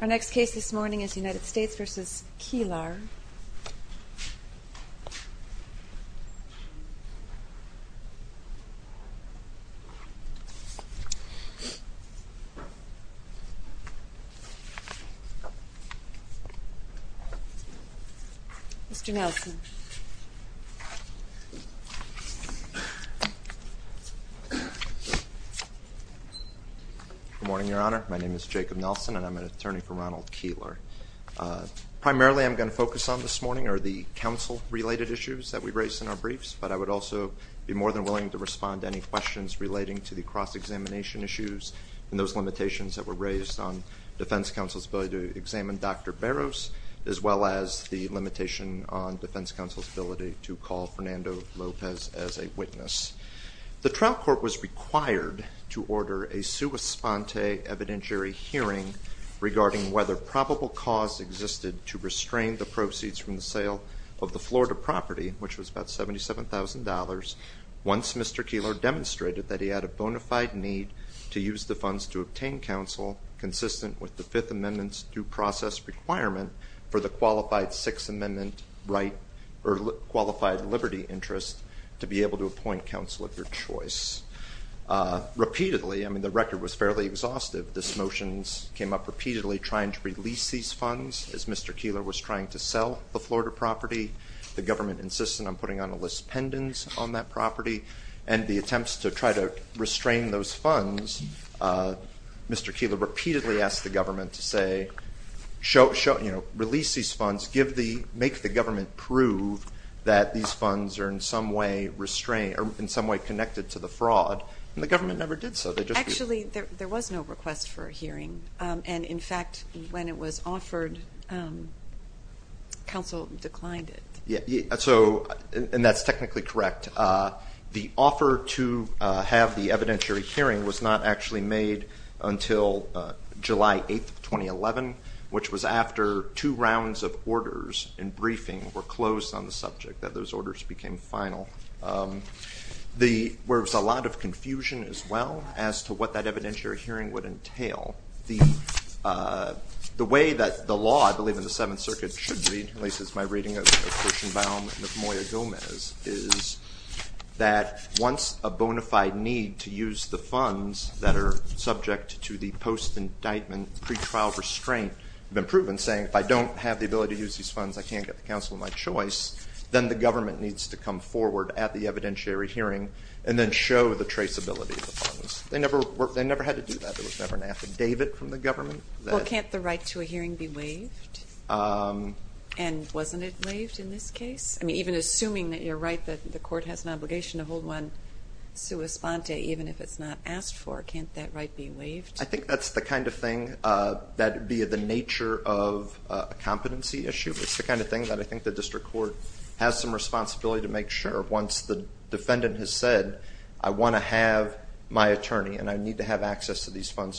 Our next case this morning is United States v. Kielar. Good morning, Your Honor. My name is Jacob Nelson, and I'm an attorney for Ronald Kielar. Primarily I'm going to focus on this morning are the counsel-related issues that we raised in our briefs, but I would also be more than willing to respond to any questions relating to the cross-examination issues and those limitations that were raised on defense counsel's ability to examine Dr. Barrows, as well as the limitation on defense counsel's ability to call Fernando Lopez as a witness. The trial court was required to order a sua sponte evidentiary hearing regarding whether probable cause existed to restrain the proceeds from the sale of the Florida property, which was about $77,000, once Mr. Kielar demonstrated that he had a bona fide need to use the funds to obtain counsel consistent with the Fifth Amendment's due process requirement for the qualified Sixth Amendment right or qualified liberty interest to be able to appoint counsel of your choice. Repeatedly, I mean, the record was fairly exhaustive. These motions came up repeatedly trying to release these funds as Mr. Kielar was trying to sell the Florida property. The government insisted on putting on a list pendants on that property, and the attempts to try to restrain those funds, Mr. Kielar repeatedly asked the government to say, you know, release these funds, make the government prove that these funds are in some way connected to the fraud, and the government never did so. Actually, there was no request for a hearing, and in fact, when it was offered, counsel declined it. Yeah, so, and that's technically correct. The offer to have the evidentiary hearing was not actually made until July 8th of 2011, which was after two rounds of orders and briefing were closed on the subject, that those orders became final. There was a lot of confusion as well as to what that evidentiary hearing would entail. The way that the law, I believe in the Seventh Circuit, should be, at least as my reading of Kirshenbaum and of Moya-Gomez, is that once a bona fide need to use the funds that are subject to the post-indictment pretrial restraint have been proven, saying if I don't have the ability to use these funds, I can't get the counsel of my choice, then the government needs to come forward at the evidentiary hearing and then show the traceability of the funds. They never had to do that. There was never an affidavit from the government that – And wasn't it waived in this case? I mean, even assuming that you're right, that the court has an obligation to hold one sua sponte, even if it's not asked for, can't that right be waived? I think that's the kind of thing that via the nature of a competency issue, it's the kind of thing that I think the district court has some responsibility to make sure once the defendant has said, I want to have my attorney and I need to have access to these funds,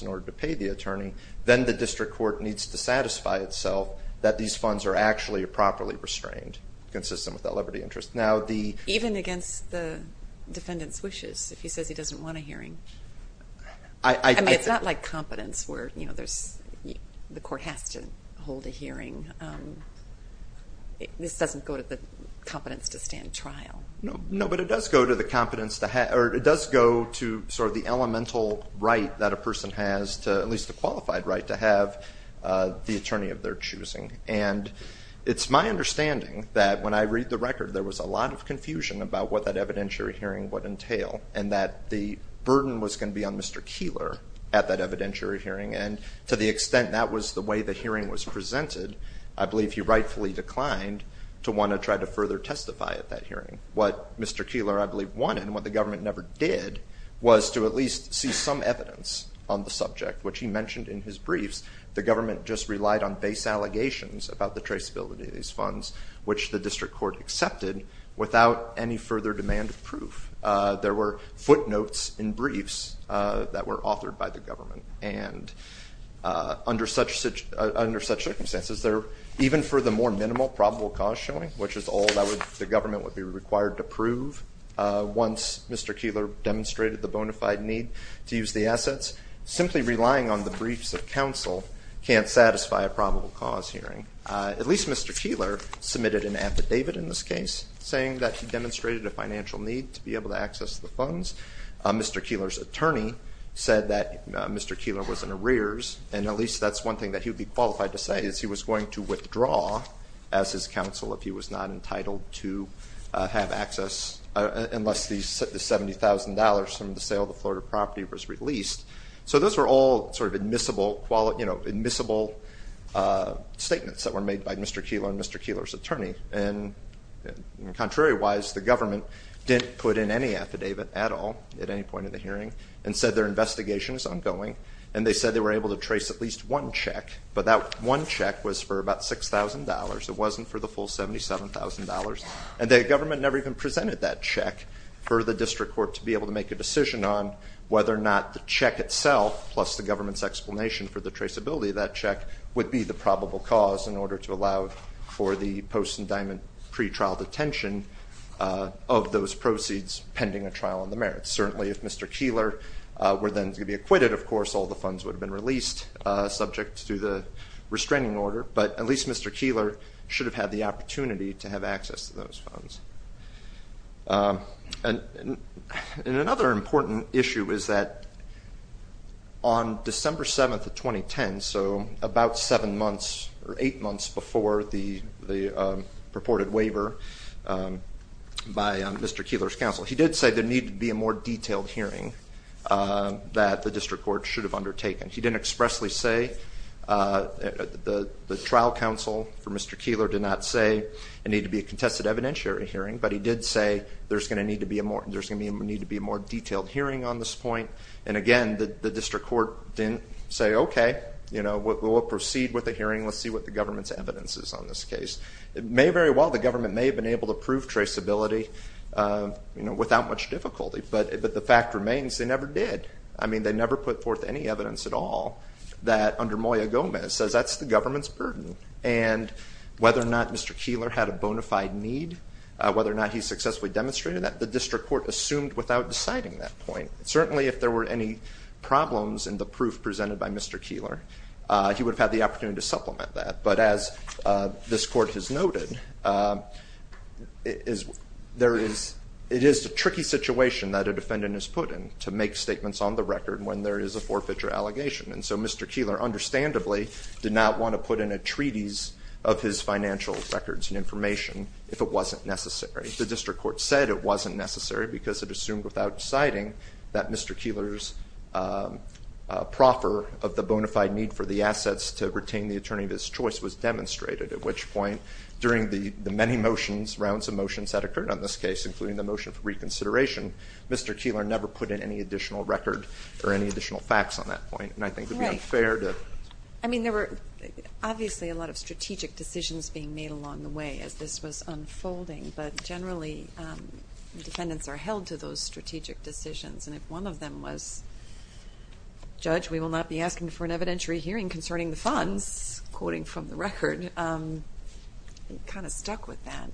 that these funds are actually properly restrained, consistent with that liberty interest. Now the – Even against the defendant's wishes, if he says he doesn't want a hearing. I mean, it's not like competence where, you know, there's – the court has to hold a hearing. This doesn't go to the competence to stand trial. No, but it does go to the competence to – or it does go to sort of the elemental right that a person has to – at least a qualified right to have the attorney of their choosing. And it's my understanding that when I read the record, there was a lot of confusion about what that evidentiary hearing would entail and that the burden was going to be on Mr. Keillor at that evidentiary hearing. And to the extent that was the way the hearing was presented, I believe he rightfully declined to want to try to further testify at that hearing. What Mr. Keillor, I believe, wanted and what the government never did was to at least see some evidence on the subject, which he mentioned in his briefs, the government just relied on base allegations about the traceability of these funds, which the district court accepted without any further demand of proof. There were footnotes in briefs that were authored by the government. And under such – under such circumstances, there – even for the more minimal probable cause showing, which is all that would – the government would be required to prove once Mr. Keillor demonstrated the bona fide need to use the assets, simply relying on the briefs of counsel can't satisfy a probable cause hearing. At least Mr. Keillor submitted an affidavit in this case saying that he demonstrated a financial need to be able to access the funds. Mr. Keillor's attorney said that Mr. Keillor was in arrears, and at least that's one thing that he would be qualified to say, is he was going to withdraw as his counsel if he was not entitled to have access unless the $70,000 from the sale of the Florida property was released. So those were all sort of admissible – admissible statements that were made by Mr. Keillor and Mr. Keillor's attorney. And contrary-wise, the government didn't put in any affidavit at all at any point in the hearing and said their investigation is ongoing. And they said they were able to trace at least one check, but that one check was for about $6,000. It wasn't for the full $77,000. And the government never even presented that check for the district court to be able to make a decision on whether or not the check itself, plus the government's explanation for the traceability of that check, would be the probable cause in order to allow for the post-indictment pretrial detention of those proceeds pending a trial on the merits. Certainly if Mr. Keillor were then to be acquitted, of course, all the funds would have been released subject to the restraining order, but at least Mr. Keillor should have had the opportunity to have access to those funds. And another important issue is that on December 7, 2010, so about seven months or eight months before the purported waiver by Mr. Keillor's counsel, he did say there needed to be a more detailed hearing that the district court should have on this case. And I'll honestly say the trial counsel for Mr. Keillor did not say it needed to be a contested evidentiary hearing, but he did say there's going to need to be a more detailed hearing on this point. And again, the district court didn't say, okay, we'll proceed with the hearing. Let's see what the government's evidence is on this case. It may very well, the government may have been able to prove traceability without much difficulty, but the fact remains they never did. I mean, they never put forth any evidence at all that under Moya-Gomez says that's the government's burden. And whether or not Mr. Keillor had a bona fide need, whether or not he successfully demonstrated that, the district court assumed without deciding that point. Certainly, if there were any problems in the proof presented by Mr. Keillor, he would have had the opportunity to supplement that. But as this court has to make statements on the record when there is a forfeiture allegation. And so Mr. Keillor understandably did not want to put in a treaties of his financial records and information if it wasn't necessary. The district court said it wasn't necessary because it assumed without deciding that Mr. Keillor's proffer of the bona fide need for the assets to retain the attorney of his choice was demonstrated. At which point, during the many motions, rounds of reconsideration, Mr. Keillor never put in any additional record or any additional facts on that point. And I think it would be unfair to... Right. I mean, there were obviously a lot of strategic decisions being made along the way as this was unfolding. But generally, defendants are held to those strategic decisions. And if one of them was, Judge, we will not be asking for an evidentiary hearing concerning the funds, quoting from the record, it kind of stuck with that.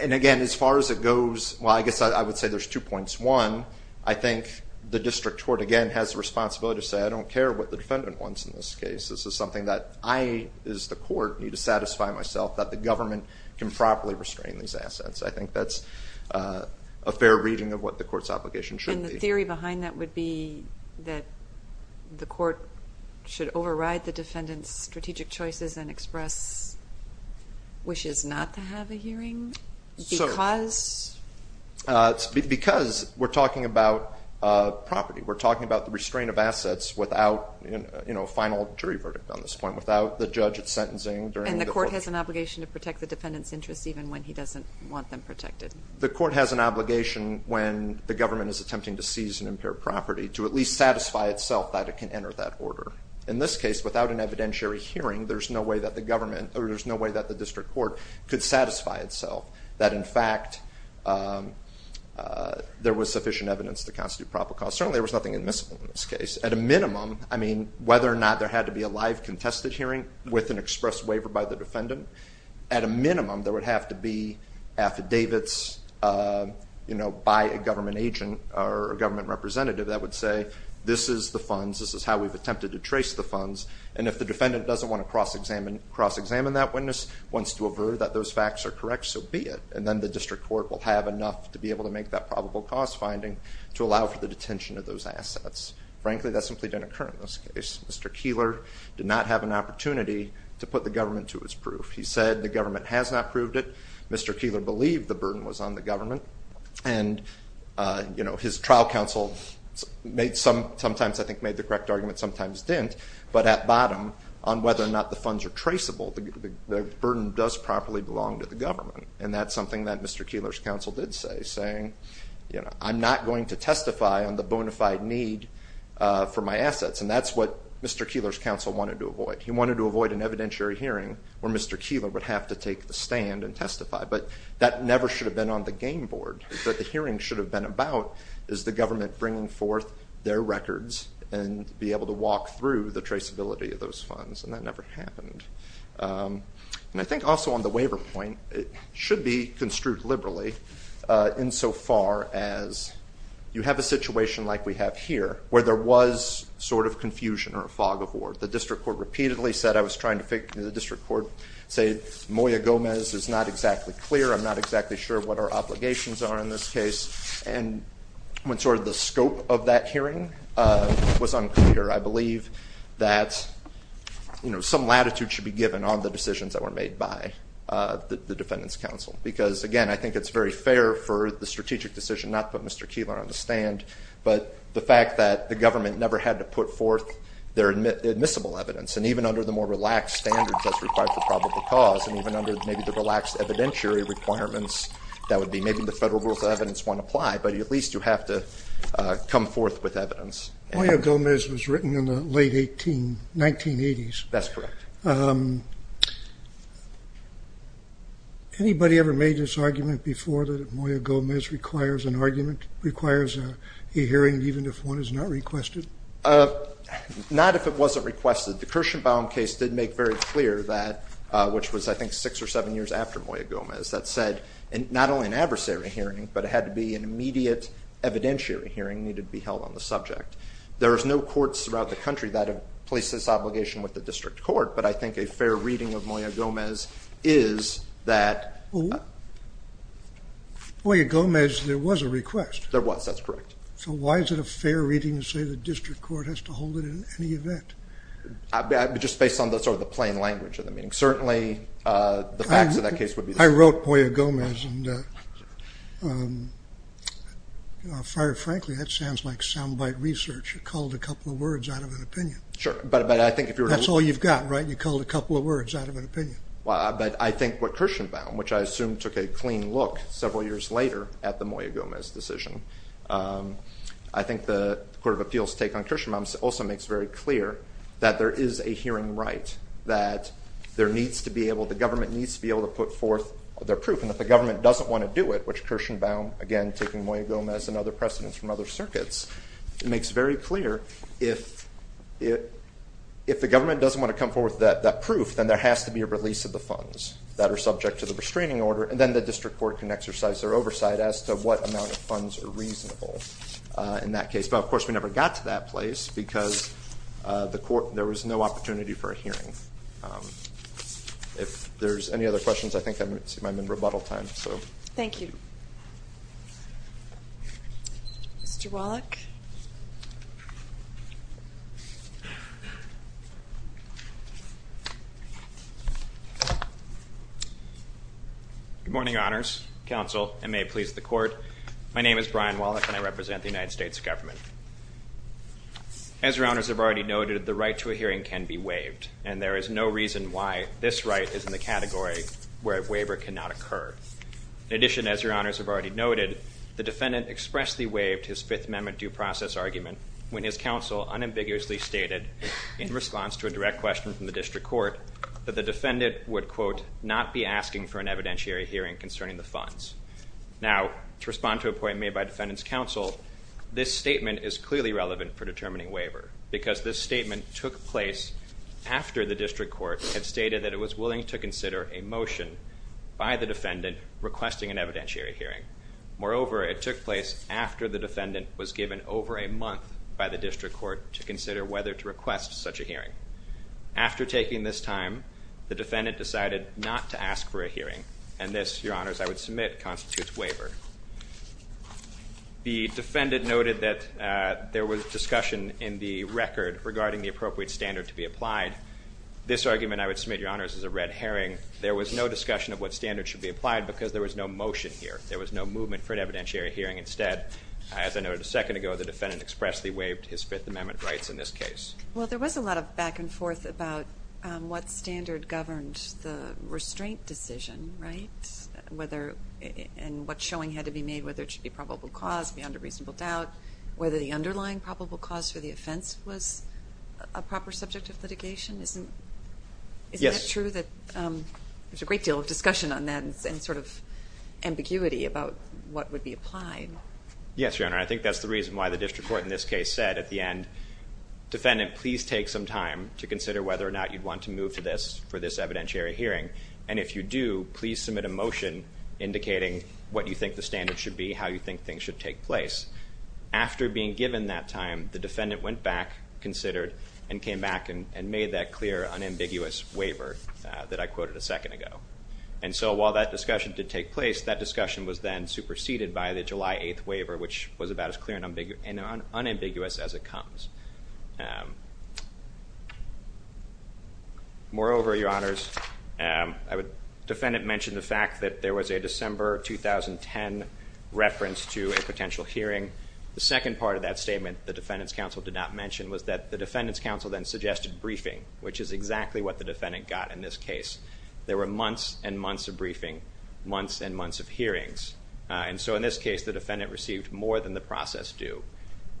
And again, as far as it goes, well, I guess I would say there's two points. One, I think the district court, again, has the responsibility to say, I don't care what the defendant wants in this case. This is something that I, as the court, need to satisfy myself that the government can properly restrain these assets. I think that's a fair reading of what the court's obligation should be. And the theory behind that would be that the court should override the defendant's strategic choices and express wishes not to have a hearing? Because? Because we're talking about property. We're talking about the restraint of assets without a final jury verdict on this point, without the judge sentencing during the court... And the court has an obligation to protect the defendant's interests even when he doesn't want them protected. The court has an obligation when the government is attempting to seize and impair property to at least satisfy itself that it can enter that order. In this case, without an evidentiary hearing, there's no way that the government, or there's no way that the district court could satisfy itself that, in fact, there was sufficient evidence to constitute proper costs. Certainly there was nothing admissible in this case. At a minimum, I mean, whether or not there had to be a live contested hearing with an express waiver by the defendant, at a minimum there would have to be affidavits by a government agent or a government representative that would say, this is the funds, this is how we've attempted to trace the funds, and if the defendant doesn't want to cross-examine that witness, wants to avert that those facts are correct, so be it. And then the district court will have enough to be able to make that probable cost finding to allow for the detention of those assets. Frankly, that simply didn't occur in this case. Mr. Keillor did not have an opportunity to put the government to his proof. He said the government has not proved it. Mr. Keillor believed the burden was on the government. And his trial counsel sometimes I think made the correct argument, sometimes didn't, but at bottom on whether or not the funds are traceable, the burden does properly belong to the government. And that's something that Mr. Keillor's counsel did say, saying, you know, I'm not going to testify on the bona fide need for my assets. And that's what Mr. Keillor's counsel wanted to avoid. He wanted to avoid an evidentiary hearing where Mr. Keillor would have to take the stand and testify. But that never should have been on the game board. What the hearing should have been about is the government bringing forth their records and be able to walk through the traceability of those funds. And that never happened. And I think also on the waiver point, it should be construed liberally insofar as you have a situation like we have here where there was sort of confusion or a fog of war. The district court repeatedly said, I was trying to figure, the district court said, Moya Gomez is not exactly clear. I'm not exactly sure what our obligations are in this case. And when sort of the scope of that hearing was unclear, I believe that, you know, some latitude should be given on the decisions that were made by the defendant's counsel. Because again, I think it's very fair for the strategic decision not to put Mr. Keillor on the stand, but the fact that the government never had to put forth their admissible evidence. And even under the more relaxed standards as required for probable cause and even under maybe the relaxed evidentiary requirements, that would be maybe the federal rules of evidence won't apply, but at least you have to come forth with evidence. Moya Gomez was written in the late 18, 1980s. That's correct. Anybody ever made this argument before that Moya Gomez requires an argument, requires a hearing even if one is not requested? Not if it wasn't requested. The Kirshenbaum case did make very clear that, which was I think six or seven years after Moya Gomez, that said not only an adversary hearing, but it had to be an immediate evidentiary hearing needed to be held on the subject. There is no courts throughout the country that have placed this obligation with the district court, but I think a fair reading of Moya Gomez is that the ---- Moya Gomez, there was a request. There was. That's correct. So why is it a fair reading to say the district court has to hold it in any event? Just based on the sort of the plain language of the meeting. Certainly, the facts of that case would be the same. I wrote Moya Gomez and, quite frankly, that sounds like soundbite research. You called a couple of words out of an opinion. Sure. But I think if you were to. That's all you've got, right? You called a couple of words out of an opinion. Well, but I think what Kirshenbaum, which I assume took a clean look several years later at the Moya Gomez decision. I think the Court of Appeals take on Kirshenbaum also makes very clear that there is a hearing right, that there needs to be able, the government needs to be able to put forth their proof. And if the government doesn't want to do it, which Kirshenbaum, again, taking Moya Gomez and other precedents from other circuits, makes very clear if the government doesn't want to come forward with that proof, then there has to be a release of the funds that are subject to the restraining order. And then the district court can exercise their oversight as to what amount of funds are reasonable in that case. But, of course, we never got to that place because there was no opportunity for a hearing. If there's any other questions, I think I'm in rebuttal time. So thank you. Mr. Wallach. Good morning, honors, counsel, and may it please the court. My name is Brian Wallach and I represent the United States government. As your honors have already noted, the right to a hearing can be waived and there is no reason why this right is in the category where a waiver cannot occur. In addition, as your honors have already noted, the defendant expressly waived his fifth amendment due process argument when his counsel unambiguously stated in response to a direct question from the district court that the defendant would, quote, not be asking for an evidentiary hearing concerning the funds. Now, to respond to a point made by defendant's counsel, this statement is clearly relevant for determining waiver because this statement took place after the district court had stated that it was willing to consider a motion by the defendant requesting an evidentiary hearing. Moreover, it took place after the defendant was given over a month by the district court to consider whether to request such a hearing. After taking this time, the defendant decided not to ask for a hearing and this, your honors, I would submit constitutes waiver. The defendant noted that there was discussion in the record regarding the appropriate standard to be applied. This argument, I would submit, your honors, is a red herring. There was no discussion of what standard should be applied because there was no motion here. There was no movement for an evidentiary hearing. Instead, as I noted a second ago, the defendant expressly waived his fifth amendment rights in this case. Well, there was a lot of back and forth about what standard governed the restraint decision, right? Whether and what showing had to be made, whether it should be probable cause beyond a reasonable doubt, whether the underlying probable cause for the offense was a proper subject of litigation. Isn't it true that there's a great deal of discussion on that and sort of ambiguity about what would be applied? Yes, your honor. I think that's the reason why the district court in this case said at the end, defendant, please take some time to consider whether or not you'd want to move to this for this evidentiary hearing. And if you do, please submit a motion indicating what you think the standard should be, how you think things should take place. After being given that time, the defendant went back, considered, and came back and made that clear unambiguous waiver that I quoted a second ago. And so while that discussion did take place, that discussion was then superseded by the hearing that comes. Moreover, your honors, defendant mentioned the fact that there was a December 2010 reference to a potential hearing. The second part of that statement, the defendant's counsel did not mention, was that the defendant's counsel then suggested briefing, which is exactly what the defendant got in this case. There were months and months of briefing, months and months of hearings. And so in this case, the defendant received more than the process due.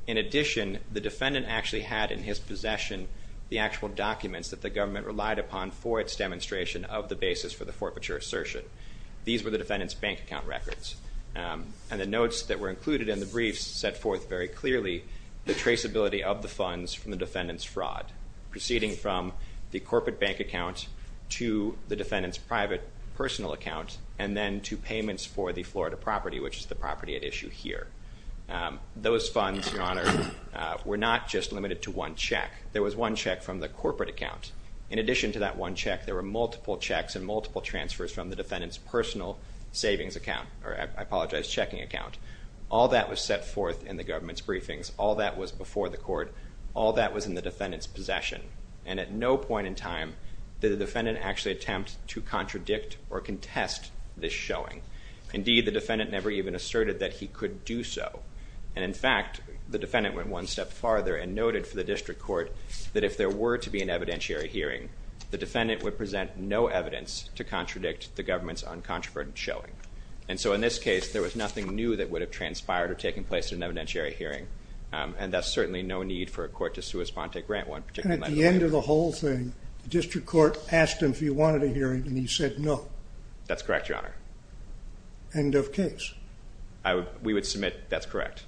In addition, the defendant actually had in his possession the actual documents that the government relied upon for its demonstration of the basis for the forfeiture assertion. These were the defendant's bank account records. And the notes that were included in the briefs set forth very clearly the traceability of the funds from the defendant's fraud, proceeding from the corporate bank account to the defendant's private personal account, and then to payments for the Florida property, which is the property at issue here. Those funds, your honor, were not just limited to one check. There was one check from the corporate account. In addition to that one check, there were multiple checks and multiple transfers from the defendant's personal savings account, or I apologize, checking account. All that was set forth in the government's briefings. All that was before the court. All that was in the defendant's possession. And at no point in time did the defendant actually attempt to contradict or contest this showing. Indeed, the defendant never even asserted that he could do so. And in fact, the defendant went one step farther and noted for the district court that if there were to be an evidentiary hearing, the defendant would present no evidence to contradict the government's uncontroverted showing. And so in this case, there was nothing new that would have transpired or taken place in an evidentiary hearing. And that's certainly no need for a court to sui sponte grant one. And at the end of the whole thing, the district court asked him if he wanted a hearing and he said no. That's correct, your honor. End of case. We would submit that's correct.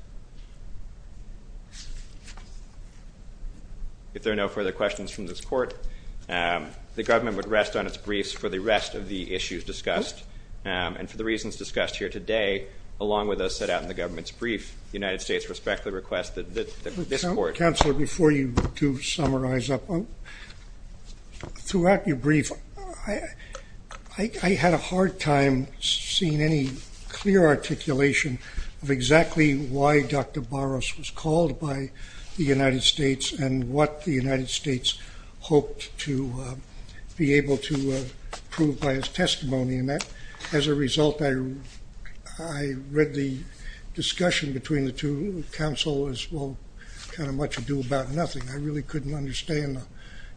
If there are no further questions from this court, the government would rest on its briefs for the rest of the issues discussed. And for the reasons discussed here today, along with those set out in the government's brief, the United States respectfully requests that this court. Counselor, before you do summarize up, throughout your brief, I had a hard time seeing any clear articulation of exactly why Dr. Barros was called by the United States and what the United States hoped to be able to prove by his testimony. And that as a result, I read the discussion between the two counselors, well, kind of much ado about nothing. I really couldn't understand.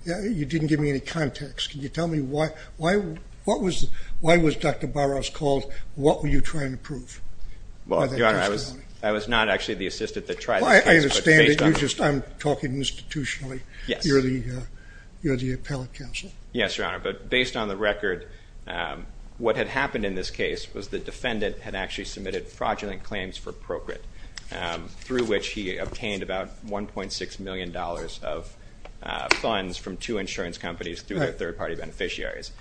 You didn't give me any context. Can you tell me why, why, what was, why was Dr. Barros called? What were you trying to prove? Well, your honor, I was, I was not actually the assistant that tried. I understand it. You're just, I'm talking institutionally. Yes. You're the appellate counsel. Yes, your honor. But based on the record, what had happened in this case was the defendant had actually submitted fraudulent claims for procreate through which he obtained about $1.6 million of funds from two insurance companies through their third-party beneficiaries.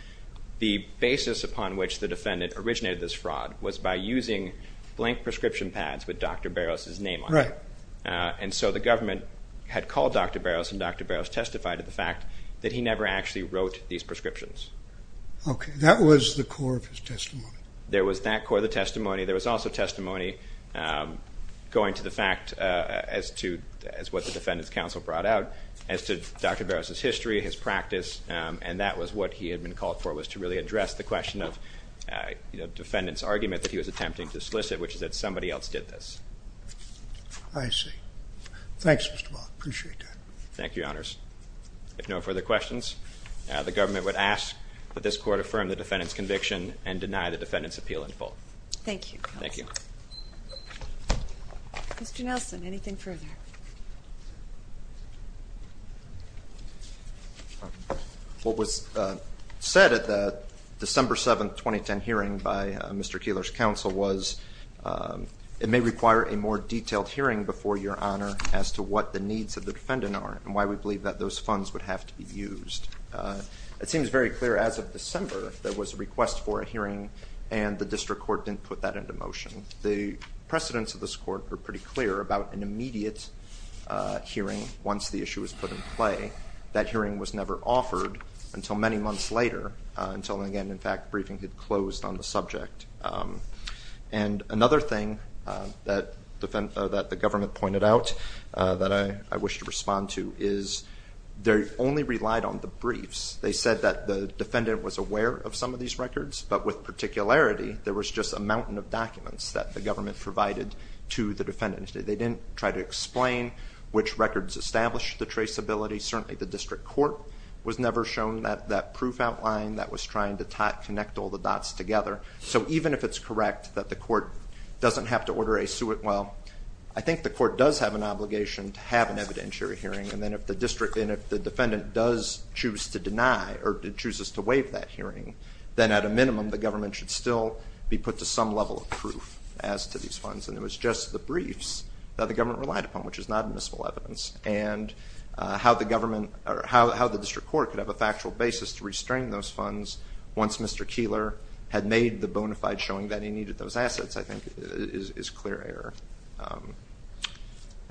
The basis upon which the defendant originated this fraud was by using blank prescription pads with Dr. Barros's name on it. And so the government had called Dr. Barros and Dr. Barros testified to the fact that he never actually wrote these prescriptions. That was the core of his testimony. There was that core of the testimony. There was also testimony, um, going to the fact, uh, as to, as what the defendant's counsel brought out as to Dr. Barros's history, his practice. Um, and that was what he had been called for was to really address the question of, uh, you know, defendant's argument that he was attempting to solicit, which is that somebody else did this. I see. Thanks, Mr. Barros, appreciate that. Thank you, your honors. If no further questions, uh, the government would ask that this court affirm the defendant's conviction and deny the defendant's appeal in full. Thank you. Thank you. Mr. Nelson, anything further? What was, uh, said at the December 7th, 2010 hearing by Mr. Keillor's counsel was, um, it may require a more detailed hearing before your honor as to what the needs of the defendant are and why we believe that those funds would have to be used. Uh, it seems very clear as of December, there was a request for a hearing and the court didn't put that into motion. The precedents of this court were pretty clear about an immediate, uh, hearing once the issue was put in play. That hearing was never offered until many months later, uh, until again, in fact, briefing had closed on the subject. Um, and another thing, uh, that, uh, that the government pointed out, uh, that I, I wish to respond to is they only relied on the briefs. They said that the defendant was aware of some of these records, but with particularity, there was just a mountain of documents that the government provided to the defendants. They didn't try to explain which records established the traceability. Certainly the district court was never shown that, that proof outline that was trying to tie, connect all the dots together. So even if it's correct that the court doesn't have to order a suit, well, I think the court does have an obligation to have an evidentiary hearing. And then if the district, and if the defendant does choose to deny or chooses to waive that hearing, then at a minimum, the government should still be put to some level of proof as to these funds. And it was just the briefs that the government relied upon, which is not admissible evidence. And, uh, how the government or how, how the district court could have a factual basis to restrain those funds once Mr. Keillor had made the bona fide showing that he needed those assets, I think is, is clear error. Um,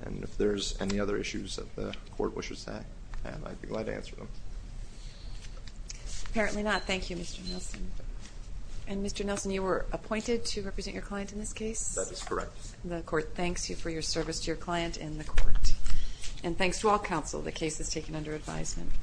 and if there's any other issues that the court wishes to have, and I'd be glad to answer them. Apparently not. Thank you, Mr. Nelson. And Mr. Nelson, you were appointed to represent your client in this case? That is correct. The court thanks you for your service to your client in the court. And thanks to all counsel. The case is taken under advisement.